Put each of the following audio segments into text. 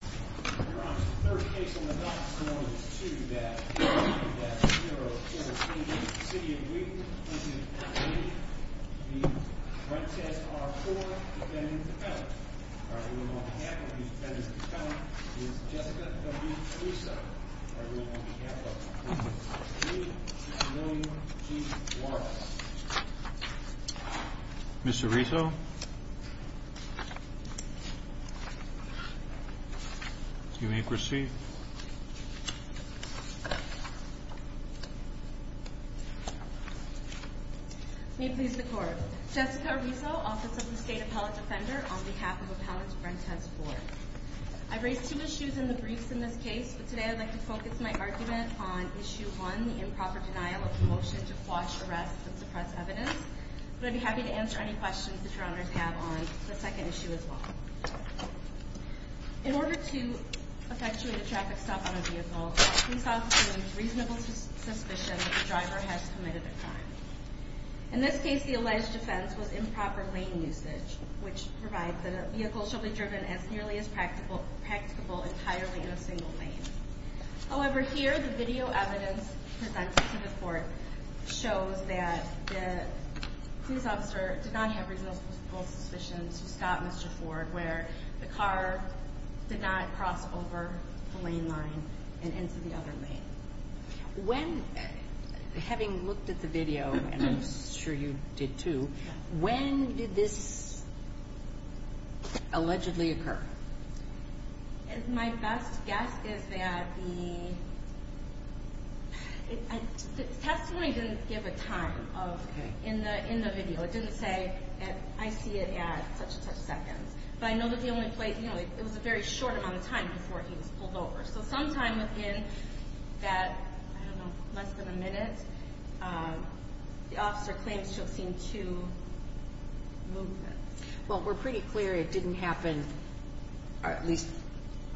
You're on to the third case on the docket. This one is 2-0-0-0-0. City of Wheaton v. Ford. The front desk are four defendants and a defendant. Alright, the woman on behalf of these defendants and defendants is Jessica W. Riso. Alright, the woman on behalf of the defendants is Judy M. G. Warren. Mr. Riso? You may proceed. May it please the Court. Jessica Riso, Office of the State Appellate Defender, on behalf of Appellant Brent S. Ford. I've raised two issues in the briefs in this case, but today I'd like to focus my argument on Issue 1, the improper denial of the motion to quash arrests and suppress evidence. But I'd be happy to answer any questions that your Honors have on the second issue as well. In order to effectuate a traffic stop on a vehicle, a police officer needs reasonable suspicion that the driver has committed a crime. In this case, the alleged offense was improper lane usage, which provides that a vehicle shall be driven as nearly as practicable entirely in a single lane. However, here the video evidence presented to the Court shows that the police officer did not have reasonable suspicion to stop Mr. Ford where the car did not cross over the lane line and into the other lane. When, having looked at the video, and I'm sure you did too, when did this allegedly occur? My best guess is that the testimony didn't give a time in the video. It didn't say, I see it at such and such seconds. But I know that the only place, you know, it was a very short amount of time before he was pulled over. So sometime within that, I don't know, less than a minute, the officer claims to have seen two movements. Well, we're pretty clear it didn't happen. At least,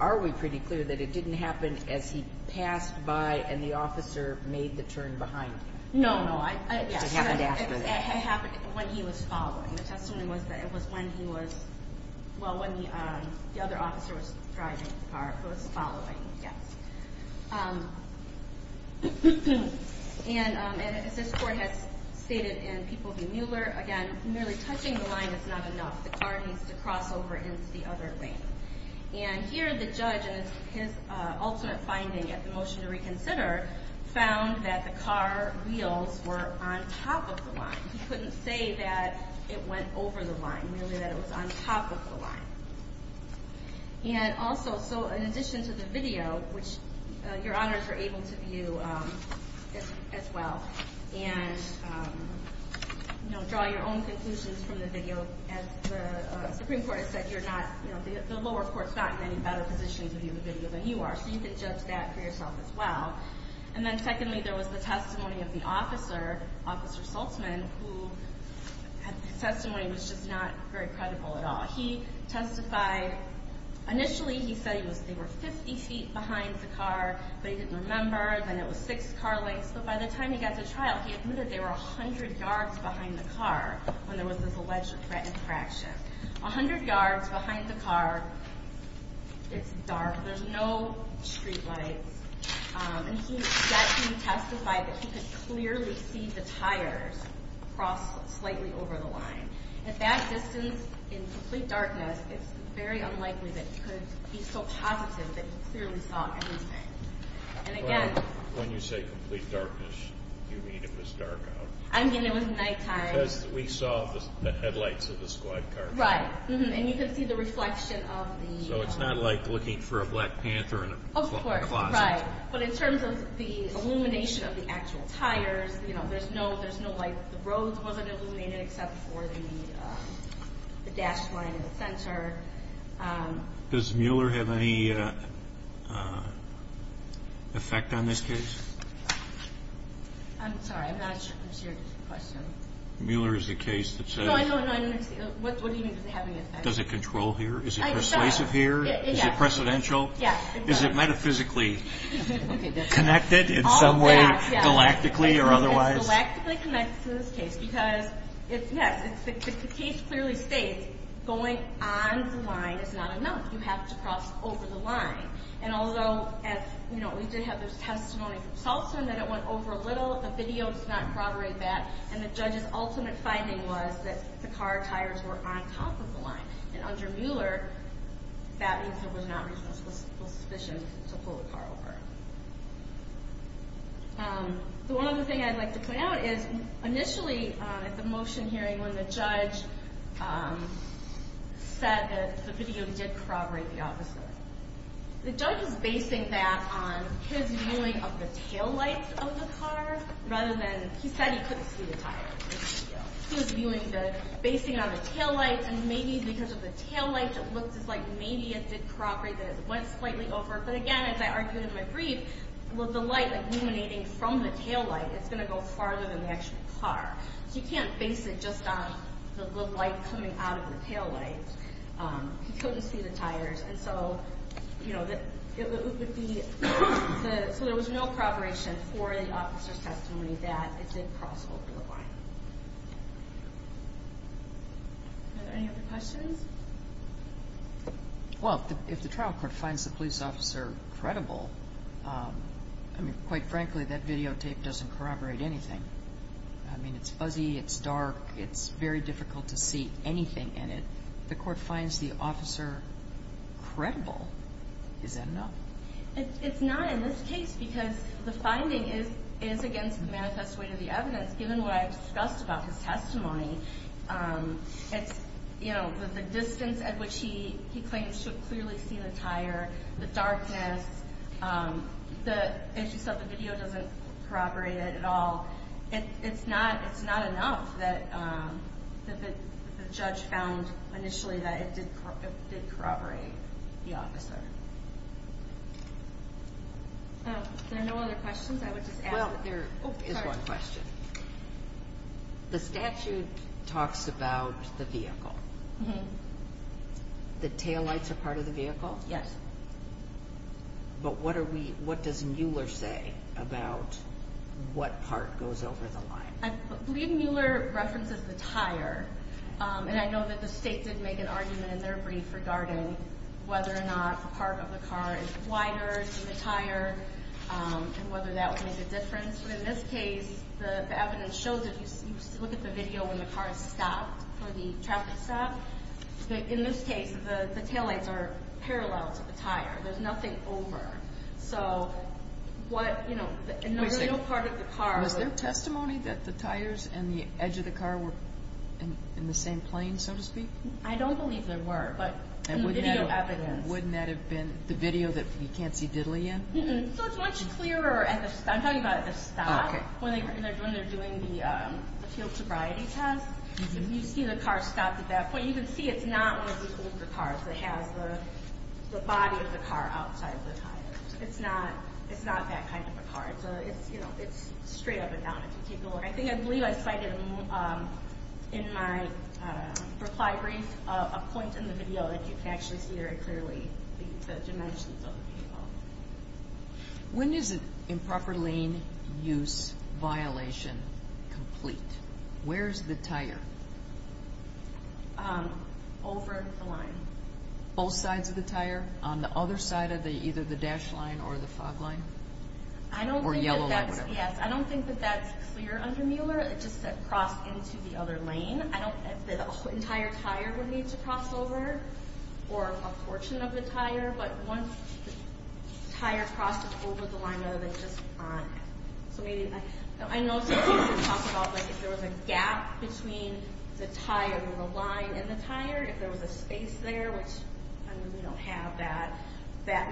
are we pretty clear that it didn't happen as he passed by and the officer made the turn behind him? No, no. It happened when he was following. The testimony was that it was when he was, well, when the other officer was driving, was following, yes. And as this Court has stated in People v. Mueller, again, merely touching the line is not enough. The car needs to cross over into the other lane. And here the judge, in his alternate finding at the motion to reconsider, found that the car wheels were on top of the line. He couldn't say that it went over the line, merely that it was on top of the line. And also, so in addition to the video, which your honors are able to view as well and, you know, draw your own conclusions from the video, as the Supreme Court has said, you're not, you know, the lower court's not in any better position to view the video than you are. So you can judge that for yourself as well. And then secondly, there was the testimony of the officer, Officer Saltzman, who had testimony that was just not very credible at all. He testified, initially he said he was, they were 50 feet behind the car, but he didn't remember. And then it was six car lengths. But by the time he got to trial, he admitted there were 100 yards behind the car when there was this alleged threatening fraction. 100 yards behind the car, it's dark, there's no street lights. And he, that he testified that he could clearly see the tires cross slightly over the line. At that distance, in complete darkness, it's very unlikely that he could be so positive that he clearly saw everything. And again... Well, when you say complete darkness, you mean it was dark out. I mean it was nighttime. Because we saw the headlights of the squad car. Right. And you could see the reflection of the... So it's not like looking for a Black Panther in a closet. Of course, right. But in terms of the illumination of the actual tires, you know, there's no light. The roads wasn't illuminated except for the dashed line in the center. Does Mueller have any effect on this case? I'm sorry, I'm not sure if that's your question. Mueller is the case that says... No, I know, I know. What do you mean does it have any effect? Does it control here? Is it persuasive here? Yes. Is it precedential? Yes. Is it metaphysically connected in some way, galactically or otherwise? Galactically connected to this case because the case clearly states going on the line is not enough. You have to cross over the line. And although we did have this testimony from Salton that it went over a little, the video does not corroborate that. And the judge's ultimate finding was that the car tires were on top of the line. And under Mueller, that means there was not reasonable suspicion to pull the car over. The one other thing I'd like to point out is initially at the motion hearing when the judge said that the video did corroborate the officer, the judge was basing that on his viewing of the taillights of the car rather than... He said he couldn't see the tires in the video. He was basing it on the taillights, and maybe because of the taillights, it looked as like maybe it did corroborate that it went slightly over. But again, as I argued in my brief, with the light illuminating from the taillight, it's going to go farther than the actual car. So you can't base it just on the light coming out of the taillight. He couldn't see the tires. So there was no corroboration for the officer's testimony that it did cross over the line. Are there any other questions? Well, if the trial court finds the police officer credible, quite frankly, that videotape doesn't corroborate anything. I mean, it's fuzzy, it's dark, it's very difficult to see anything in it. If the court finds the officer credible, is that enough? It's not in this case because the finding is against the manifest weight of the evidence, given what I've discussed about his testimony. It's, you know, the distance at which he claims to have clearly seen the tire, the darkness. As you said, the video doesn't corroborate it at all. So it's not enough that the judge found initially that it did corroborate the officer. If there are no other questions, I would just ask. Well, there is one question. The statute talks about the vehicle. The taillights are part of the vehicle? Yes. But what does Mueller say about what part goes over the line? I believe Mueller references the tire. And I know that the state did make an argument in their brief regarding whether or not a part of the car is wider than the tire and whether that would make a difference. But in this case, the evidence shows it. You look at the video when the car is stopped for the traffic stop. In this case, the taillights are parallel to the tire. There's nothing over. So what, you know, the real part of the car. Wait a second. Was there testimony that the tires and the edge of the car were in the same plane, so to speak? I don't believe there were, but in the video evidence. And wouldn't that have been the video that you can't see Diddley in? So it's much clearer at the stop. I'm talking about at the stop when they're doing the field sobriety test. You see the car stopped at that point. You can see it's not one of these older cars that has the body of the car outside the tire. It's not that kind of a car. It's straight up and down, if you take a look. I believe I cited in my reply brief a point in the video that you can actually see very clearly the dimensions of the vehicle. When is an improper lane use violation complete? Where is the tire? Over the line. Both sides of the tire? On the other side of either the dash line or the fog line? Or yellow line, whatever. Yes, I don't think that that's clear under Mueller. It just said cross into the other lane. I don't think the entire tire would need to cross over, or a portion of the tire. But once the tire crossed over the line, rather than just on it. I know some people talk about if there was a gap between the tire and the line and the tire. If there was a space there, which we don't have that.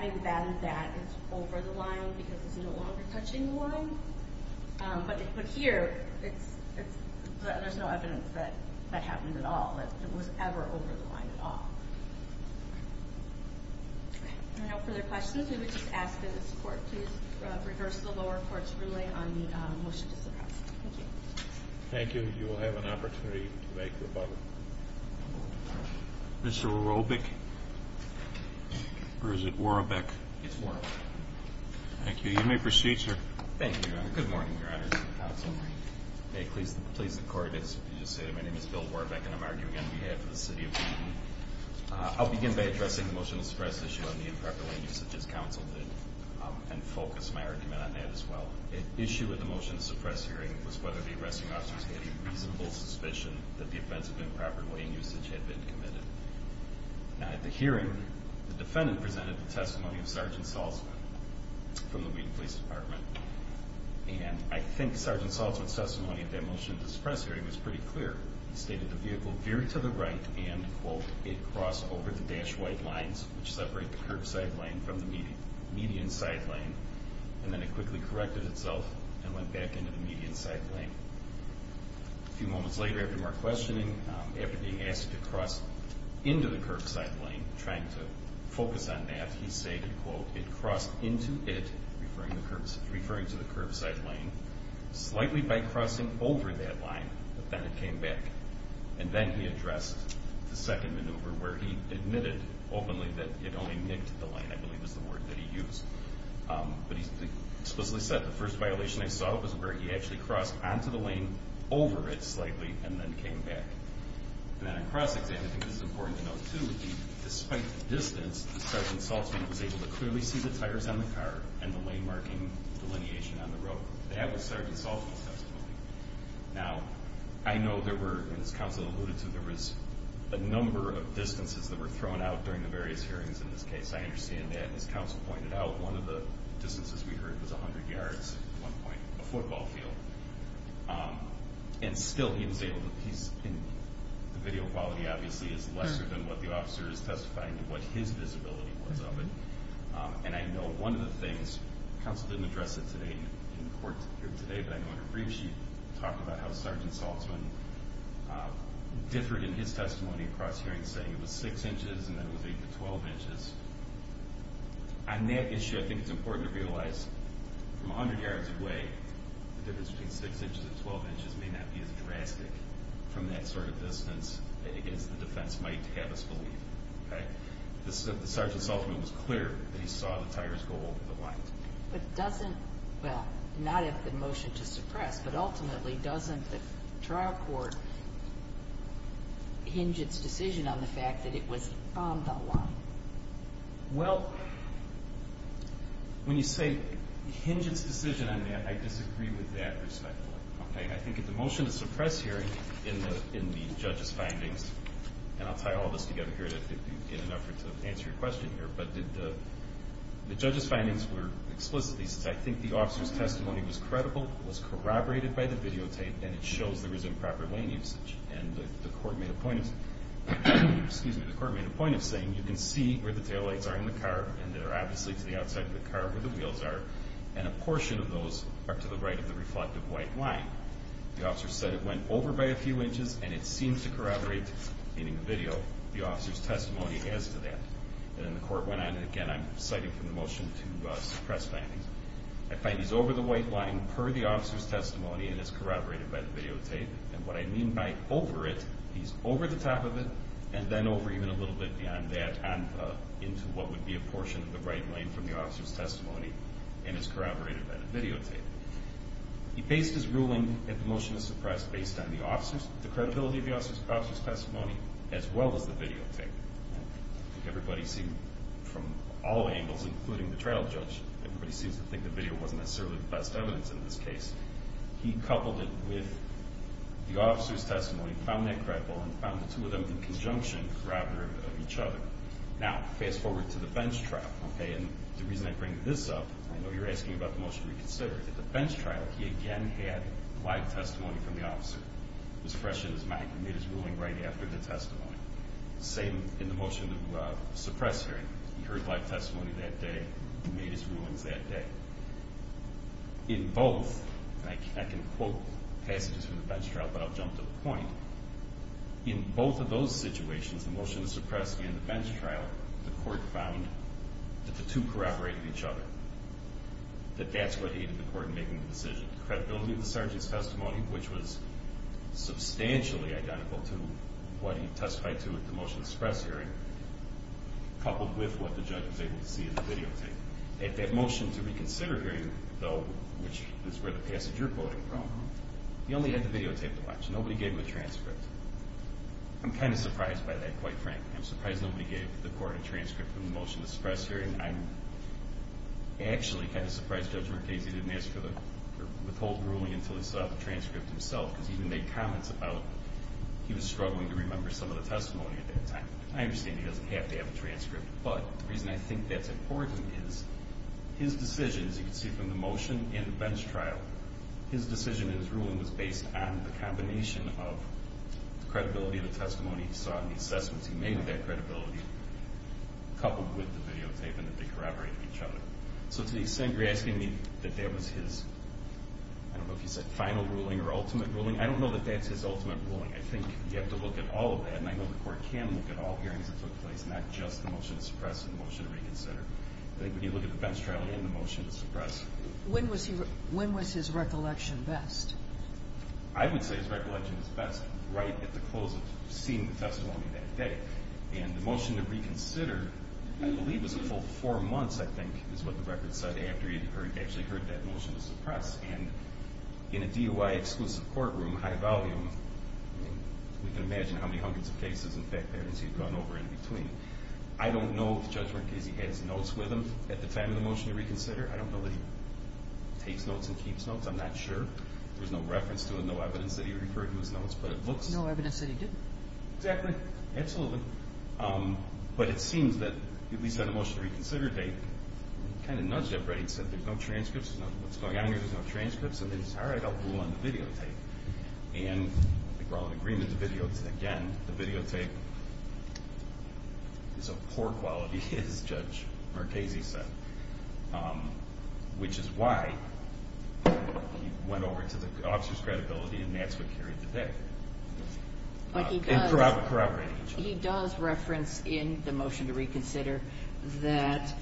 Maybe then that is over the line because it's no longer touching the line. But here, there's no evidence that that happened at all. That it was ever over the line at all. If there are no further questions, we would just ask that the court please rehearse the lower court's ruling on the motion to suppress. Thank you. Thank you. You will have an opportunity to make rebuttal. Mr. Robeck? Or is it Warbeck? It's Warbeck. Thank you. You may proceed, sir. Thank you, Your Honor. Good morning, Your Honor and Counsel. Good morning. May it please the court, as you just said, my name is Bill Warbeck, and I'm arguing on behalf of the city of Dayton. I'll begin by addressing the motion to suppress issue on the improper lane use, such as counsel did, and focus my argument on that as well. The issue with the motion to suppress hearing was whether the arresting officers had any reasonable suspicion that the offense of improper lane usage had been committed. Now, at the hearing, the defendant presented the testimony of Sergeant Salzman from the Wheaton Police Department. And I think Sergeant Salzman's testimony of that motion to suppress hearing He stated the vehicle veered to the right and, quote, it crossed over the dash white lines, which separate the curbside lane from the median side lane, and then it quickly corrected itself and went back into the median side lane. A few moments later, after more questioning, after being asked to cross into the curbside lane, trying to focus on that, he stated, quote, it crossed into it, referring to the curbside lane, slightly by crossing over that line, but then it came back. And then he addressed the second maneuver where he admitted openly that it only nicked the lane, I believe is the word that he used. But he explicitly said, the first violation I saw was where he actually crossed onto the lane, over it slightly, and then came back. And then on cross-examining, this is important to note too, despite the distance, Sergeant Salzman was able to clearly see the tires on the car and the lane marking delineation on the road. That was Sergeant Salzman's testimony. Now, I know there were, as Counsel alluded to, there was a number of distances that were thrown out during the various hearings in this case. I understand that. As Counsel pointed out, one of the distances we heard was 100 yards at one point, a football field. And still, he was able to piece in. The video quality obviously is lesser than what the officer is testifying to, what his visibility was of it. And I know one of the things, Counsel didn't address it today, but I know in her brief she talked about how Sergeant Salzman differed in his testimony across hearings, saying it was 6 inches and then it was 8 to 12 inches. On that issue, I think it's important to realize from 100 yards away, the difference between 6 inches and 12 inches may not be as drastic from that sort of distance as the defense might have us believe. Sergeant Salzman was clear that he saw the tires go over the line. But doesn't, well, not at the motion to suppress, but ultimately doesn't the trial court hinge its decision on the fact that it was on the line? Well, when you say hinge its decision on that, I disagree with that perspective. I think at the motion to suppress hearing in the judge's findings, and I'll tie all this together here in an effort to answer your question here, but the judge's findings were explicit. He said, I think the officer's testimony was credible, was corroborated by the videotape, and it shows there is improper lane usage. And the court made a point of saying, you can see where the taillights are in the car, and they're obviously to the outside of the car where the wheels are, and a portion of those are to the right of the reflective white line. The officer said it went over by a few inches, and it seems to corroborate in the video. The officer's testimony adds to that. And then the court went on, and again, I'm citing from the motion to suppress findings. I find he's over the white line per the officer's testimony and is corroborated by the videotape. And what I mean by over it, he's over the top of it and then over even a little bit beyond that into what would be a portion of the right lane from the officer's testimony and is corroborated by the videotape. He based his ruling at the motion to suppress based on the credibility of the officer's testimony as well as the videotape. Everybody seemed, from all angles, including the trial judge, everybody seems to think the video wasn't necessarily the best evidence in this case. He coupled it with the officer's testimony, found that credible, and found the two of them in conjunction corroborate each other. Now, fast forward to the bench trial. Okay, and the reason I bring this up, I know you're asking about the motion to reconsider. At the bench trial, he again had live testimony from the officer. It was fresh in his mind. He made his ruling right after the testimony. Same in the motion to suppress hearing. He heard live testimony that day. He made his rulings that day. In both, and I can quote passages from the bench trial, but I'll jump to the point. In both of those situations, the motion to suppress and the bench trial, the court found that the two corroborated each other, that that's what aided the court in making the decision. The credibility of the sergeant's testimony, which was substantially identical to what he testified to at the motion to suppress hearing, coupled with what the judge was able to see in the videotape. At that motion to reconsider hearing, though, which is where the passage you're quoting from, he only had the videotape to watch. Nobody gave him a transcript. I'm kind of surprised by that, quite frankly. I'm surprised nobody gave the court a transcript from the motion to suppress hearing. I'm actually kind of surprised Judge Mercasey didn't withhold the ruling until he saw the transcript himself because he even made comments about he was struggling to remember some of the testimony at that time. I understand he doesn't have to have a transcript, but the reason I think that's important is his decision, as you can see from the motion and the bench trial, his decision and his ruling was based on the combination of the credibility of the testimony he saw and the assessments he made of that credibility coupled with the videotape and that they corroborated each other. So to the extent you're asking me that that was his, I don't know if you said final ruling or ultimate ruling, I don't know that that's his ultimate ruling. I think you have to look at all of that, and I know the court can look at all hearings that took place, not just the motion to suppress and the motion to reconsider. I think when you look at the bench trial and the motion to suppress. When was his recollection best? I would say his recollection was best right at the close of seeing the testimony that day. And the motion to reconsider, I believe, was a full four months, I think, is what the record said after he actually heard that motion to suppress. And in a DOI-exclusive courtroom, high volume, we can imagine how many hundreds of cases, in fact, there is he'd gone over in between. I don't know the judgment because he has notes with him at the time of the motion to reconsider. I don't know that he takes notes and keeps notes. I'm not sure. There's no reference to it, no evidence that he referred to his notes. No evidence that he did. Exactly. Absolutely. But it seems that, at least on the motion to reconsider date, he kind of nudged everybody and said there's no transcripts, what's going on here, there's no transcripts. And they just, all right, I'll rule on the videotape. And I think we're all in agreement, the videotape, again, the videotape is of poor quality, as Judge Marchese said. Which is why he went over to the officer's credibility and that's what carried the day. But he does. And corroborated each other. He does reference in the motion to reconsider that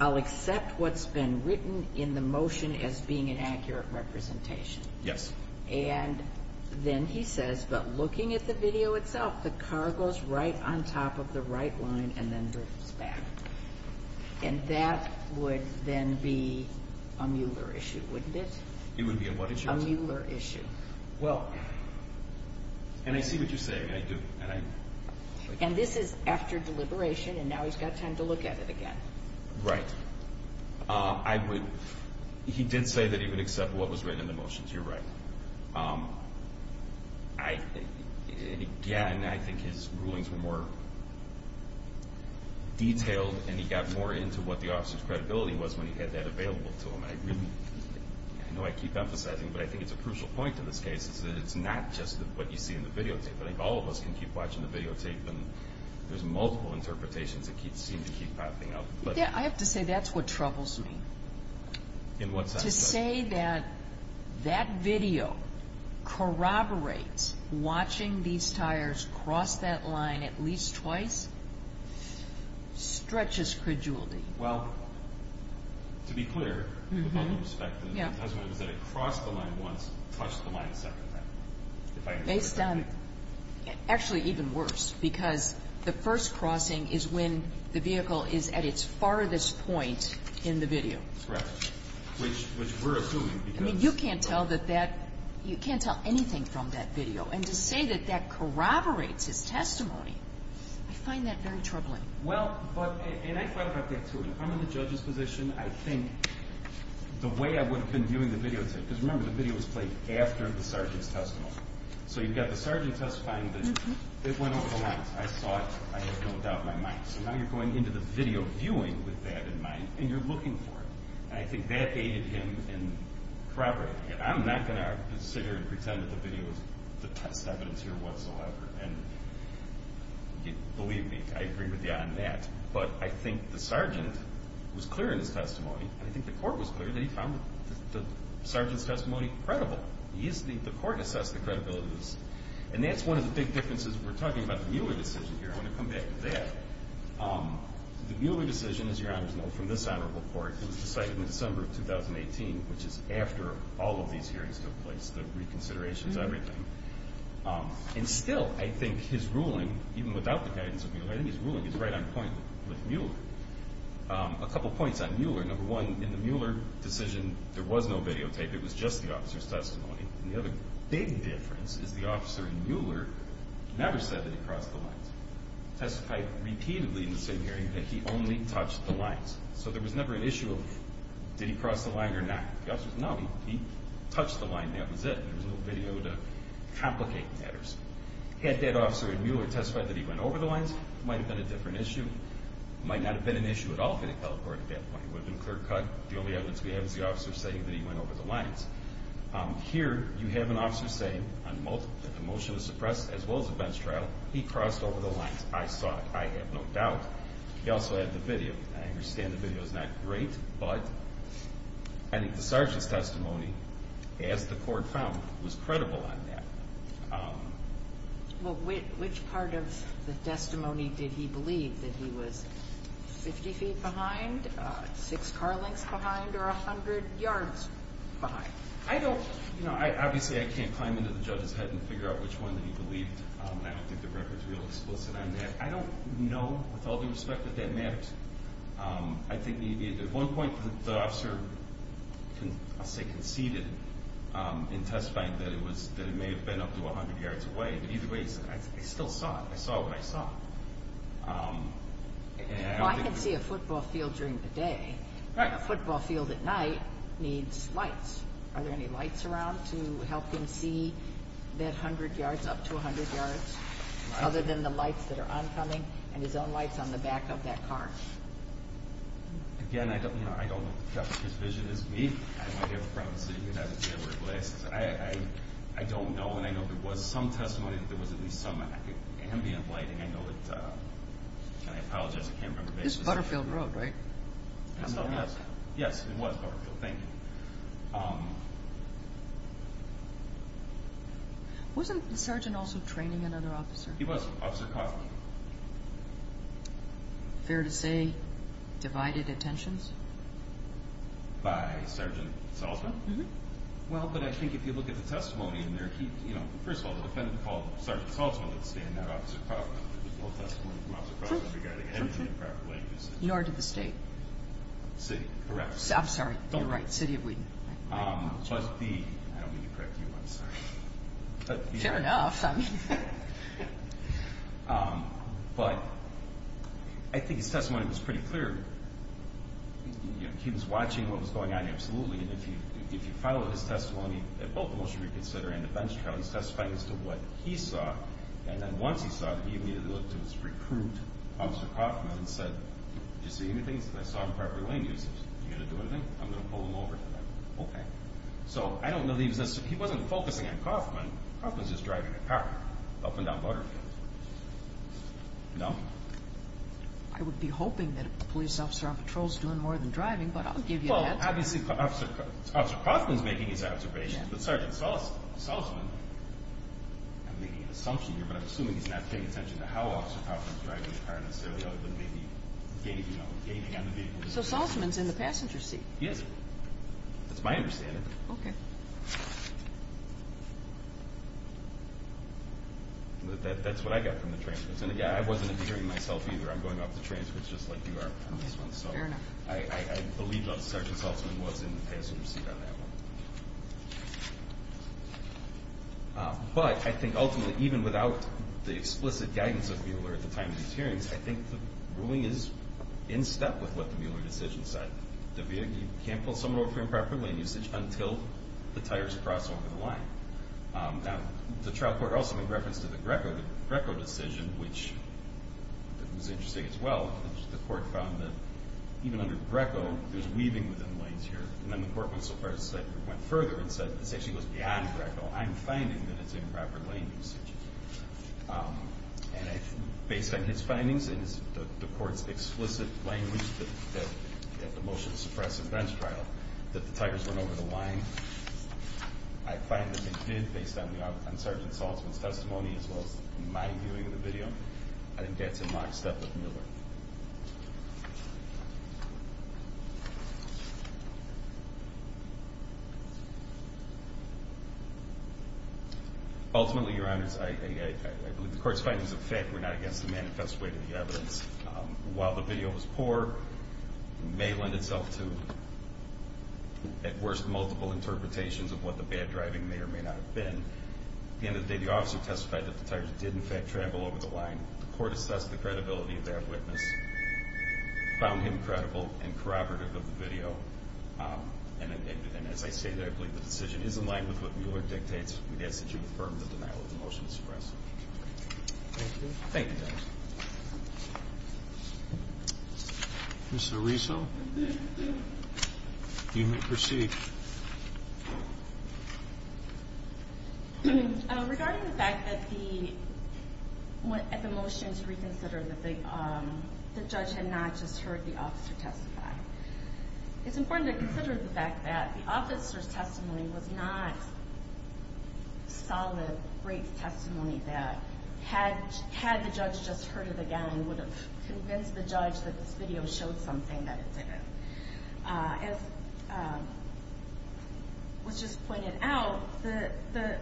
I'll accept what's been written in the motion as being an accurate representation. Yes. And then he says, but looking at the video itself, the car goes right on top of the right line and then drifts back. And that would then be a Mueller issue, wouldn't it? It would be a what issue? A Mueller issue. Well, and I see what you're saying, I do. And this is after deliberation and now he's got time to look at it again. Right. He did say that he would accept what was written in the motions, you're right. Again, I think his rulings were more detailed and he got more into what the officer's credibility was when he had that available to him. I know I keep emphasizing, but I think it's a crucial point in this case, is that it's not just what you see in the videotape. I think all of us can keep watching the videotape and there's multiple interpretations that seem to keep popping up. Yeah, I have to say that's what troubles me. In what sense? To say that that video corroborates watching these tires cross that line at least twice stretches credulity. Well, to be clear, with all due respect, the testimony was that it crossed the line once, touched the line a second time. Based on, actually even worse, because the first crossing is when the vehicle is at its farthest point in the video. Correct. Which we're assuming because... I mean, you can't tell anything from that video. And to say that that corroborates his testimony, I find that very troubling. Well, and I thought about that, too. If I'm in the judge's position, I think the way I would have been viewing the videotape, because remember, the video was played after the sergeant's testimony. So you've got the sergeant testifying, but it went over the lines. I saw it, I had no doubt in my mind. So now you're going into the video viewing with that in mind, and you're looking for it. And I think that aided him in corroborating it. I'm not going to consider and pretend that the video is the test evidence here whatsoever. And believe me, I agree with you on that. But I think the sergeant was clear in his testimony, and I think the court was clear that he found the sergeant's testimony credible. The court assessed the credibility of this. And that's one of the big differences. We're talking about the Mueller decision here. I want to come back to that. The Mueller decision, as your honors know from this honorable court, was decided in December of 2018, which is after all of these hearings took place, the reconsiderations, everything. And still, I think his ruling, even without the guidance of Mueller, I think his ruling is right on point with Mueller. A couple points on Mueller. Number one, in the Mueller decision, there was no videotape. It was just the officer's testimony. And the other big difference is the officer in Mueller never said that he crossed the lines. Testified repeatedly in the same hearing that he only touched the lines. So there was never an issue of did he cross the line or not. The officer said, no, he touched the line. That was it. There was no video to complicate matters. Had that officer in Mueller testified that he went over the lines, it might have been a different issue. It might not have been an issue at all if he had teleported at that point. It would have been clear-cut. The only evidence we have is the officer saying that he went over the lines. Here you have an officer saying that the motion was suppressed as well as a bench trial. He crossed over the lines. I saw it. I have no doubt. He also had the video. I understand the video is not great, but I think the sergeant's testimony, as the court found, was credible on that. Which part of the testimony did he believe? That he was 50 feet behind, six car lengths behind, or 100 yards behind? Obviously, I can't climb into the judge's head and figure out which one that he believed. I don't think the record is real explicit on that. I don't know, with all due respect, that that mapped. At one point, the officer conceded in testifying that it may have been up to 100 yards away. Either way, I still saw it. I saw what I saw. I can see a football field during the day. A football field at night needs lights. Are there any lights around to help him see that 100 yards, up to 100 yards, other than the lights that are oncoming and his own lights on the back of that car? Again, I don't know. The judge's vision is me. I'm not here for privacy. You can have it the other way. I don't know. And I know there was some testimony that there was at least some ambient lighting. I know it. And I apologize. I can't remember the basis. This is Butterfield Road, right? Yes, it was Butterfield. Thank you. Wasn't the sergeant also training another officer? He was, Officer Kaufman. Fair to say, divided attentions? By Sergeant Salzman? Mm-hmm. Well, but I think if you look at the testimony in there, he, you know, first of all, the defendant called Sergeant Salzman, let's say, and not Officer Kaufman. There's no testimony from Officer Kaufman regarding anything improperly used. In order to the state? City, correct. I'm sorry, you're right, City of Wheaton. Plus the, I don't mean to correct you, I'm sorry. Fair enough. But I think his testimony was pretty clear. He was watching what was going on, absolutely. And if you follow his testimony, at both the motion to reconsider and the bench trial, he's testifying as to what he saw. And then once he saw it, he immediately looked to his recruit, Officer Kaufman, and said, did you see anything that's improperly used? Are you going to do anything? I'm going to pull him over for that. Okay. So I don't know that he was necessarily, he wasn't focusing on Kaufman. Kaufman's just driving a car up and down Butterfield. No? I would be hoping that a police officer on patrol is doing more than driving, but I'll give you an answer. Well, obviously Officer Kaufman's making his observations, but Sergeant Salzman, I'm making an assumption here, but I'm assuming he's not paying attention to how Officer Kaufman's driving a car necessarily other than maybe, you know, gaming on the vehicle. So Salzman's in the passenger seat? Yes. That's my understanding. Okay. That's what I got from the transcripts. And again, I wasn't interfering myself either. I'm going off the transcripts just like you are on this one. Okay. Fair enough. So I believe that Sergeant Salzman was in the passenger seat on that one. But I think ultimately, even without the explicit guidance of Mueller at the time of these hearings, I think the ruling is in step with what the Mueller decision said. The vehicle can't pull someone over for improper lane usage until the tires cross over the line. Now, the trial court also made reference to the Greco decision, which was interesting as well. The court found that even under Greco, there's weaving within the lanes here. And then the court went so far as to say it went further and said this actually goes beyond Greco. I'm finding that it's improper lane usage. And based on his findings, and the court's explicit language at the motion to suppress the bench trial, that the tires went over the line, I find that they did based on Sergeant Salzman's testimony as well as my viewing of the video. I think that's in my step with Mueller. Ultimately, Your Honors, I believe the court's findings of the fact were not against the manifest way to the evidence. While the video was poor, it may lend itself to at worst multiple interpretations of what the bad driving may or may not have been. At the end of the day, the officer testified that the tires did in fact travel over the line. The court assessed the credibility of that witness. Found him credible and corroborative of the video. And as I say, I believe the decision is in line with what Mueller dictates. We ask that you affirm the denial of the motion to suppress. Thank you. Thank you, Judge. Ms. Ariso, you may proceed. Regarding the fact that the motions reconsidered that the judge had not just heard the officer testify, it's important to consider the fact that the officer's testimony was not solid, great testimony that had the judge just heard it again would have convinced the judge that this video showed something that it didn't. As was just pointed out,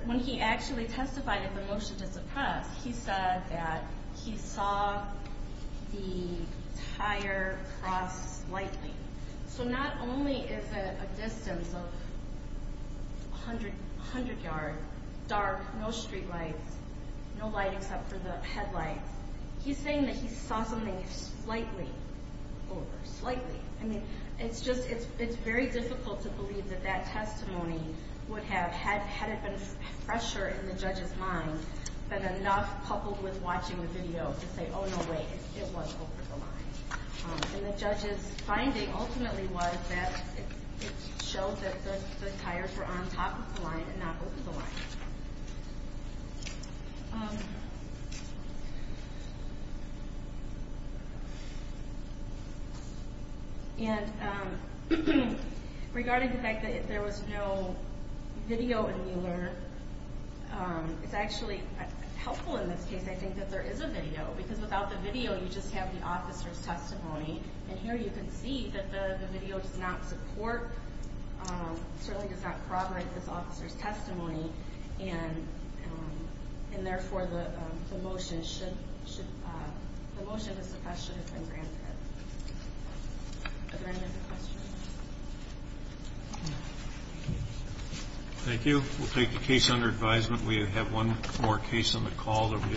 when he actually testified at the motion to suppress, he said that he saw the tire cross slightly. So not only is it a distance of 100 yards, dark, no street lights, no light except for the headlights, he's saying that he saw something slightly over, slightly. I mean, it's very difficult to believe that that testimony would have, had it been fresher in the judge's mind, been enough coupled with watching the video to say, oh, no, wait, it was over the line. And the judge's finding ultimately was that it showed that the tires were on top of the line and not over the line. And regarding the fact that there was no video in Mueller, it's actually helpful in this case, I think, that there is a video because without the video, you just have the officer's testimony. And here you can see that the video does not support, certainly does not corroborate this officer's testimony. And therefore, the motion to suppress should have been granted. Are there any other questions? Thank you. We'll take the case under advisement. We have one more case on the call that we have shortly.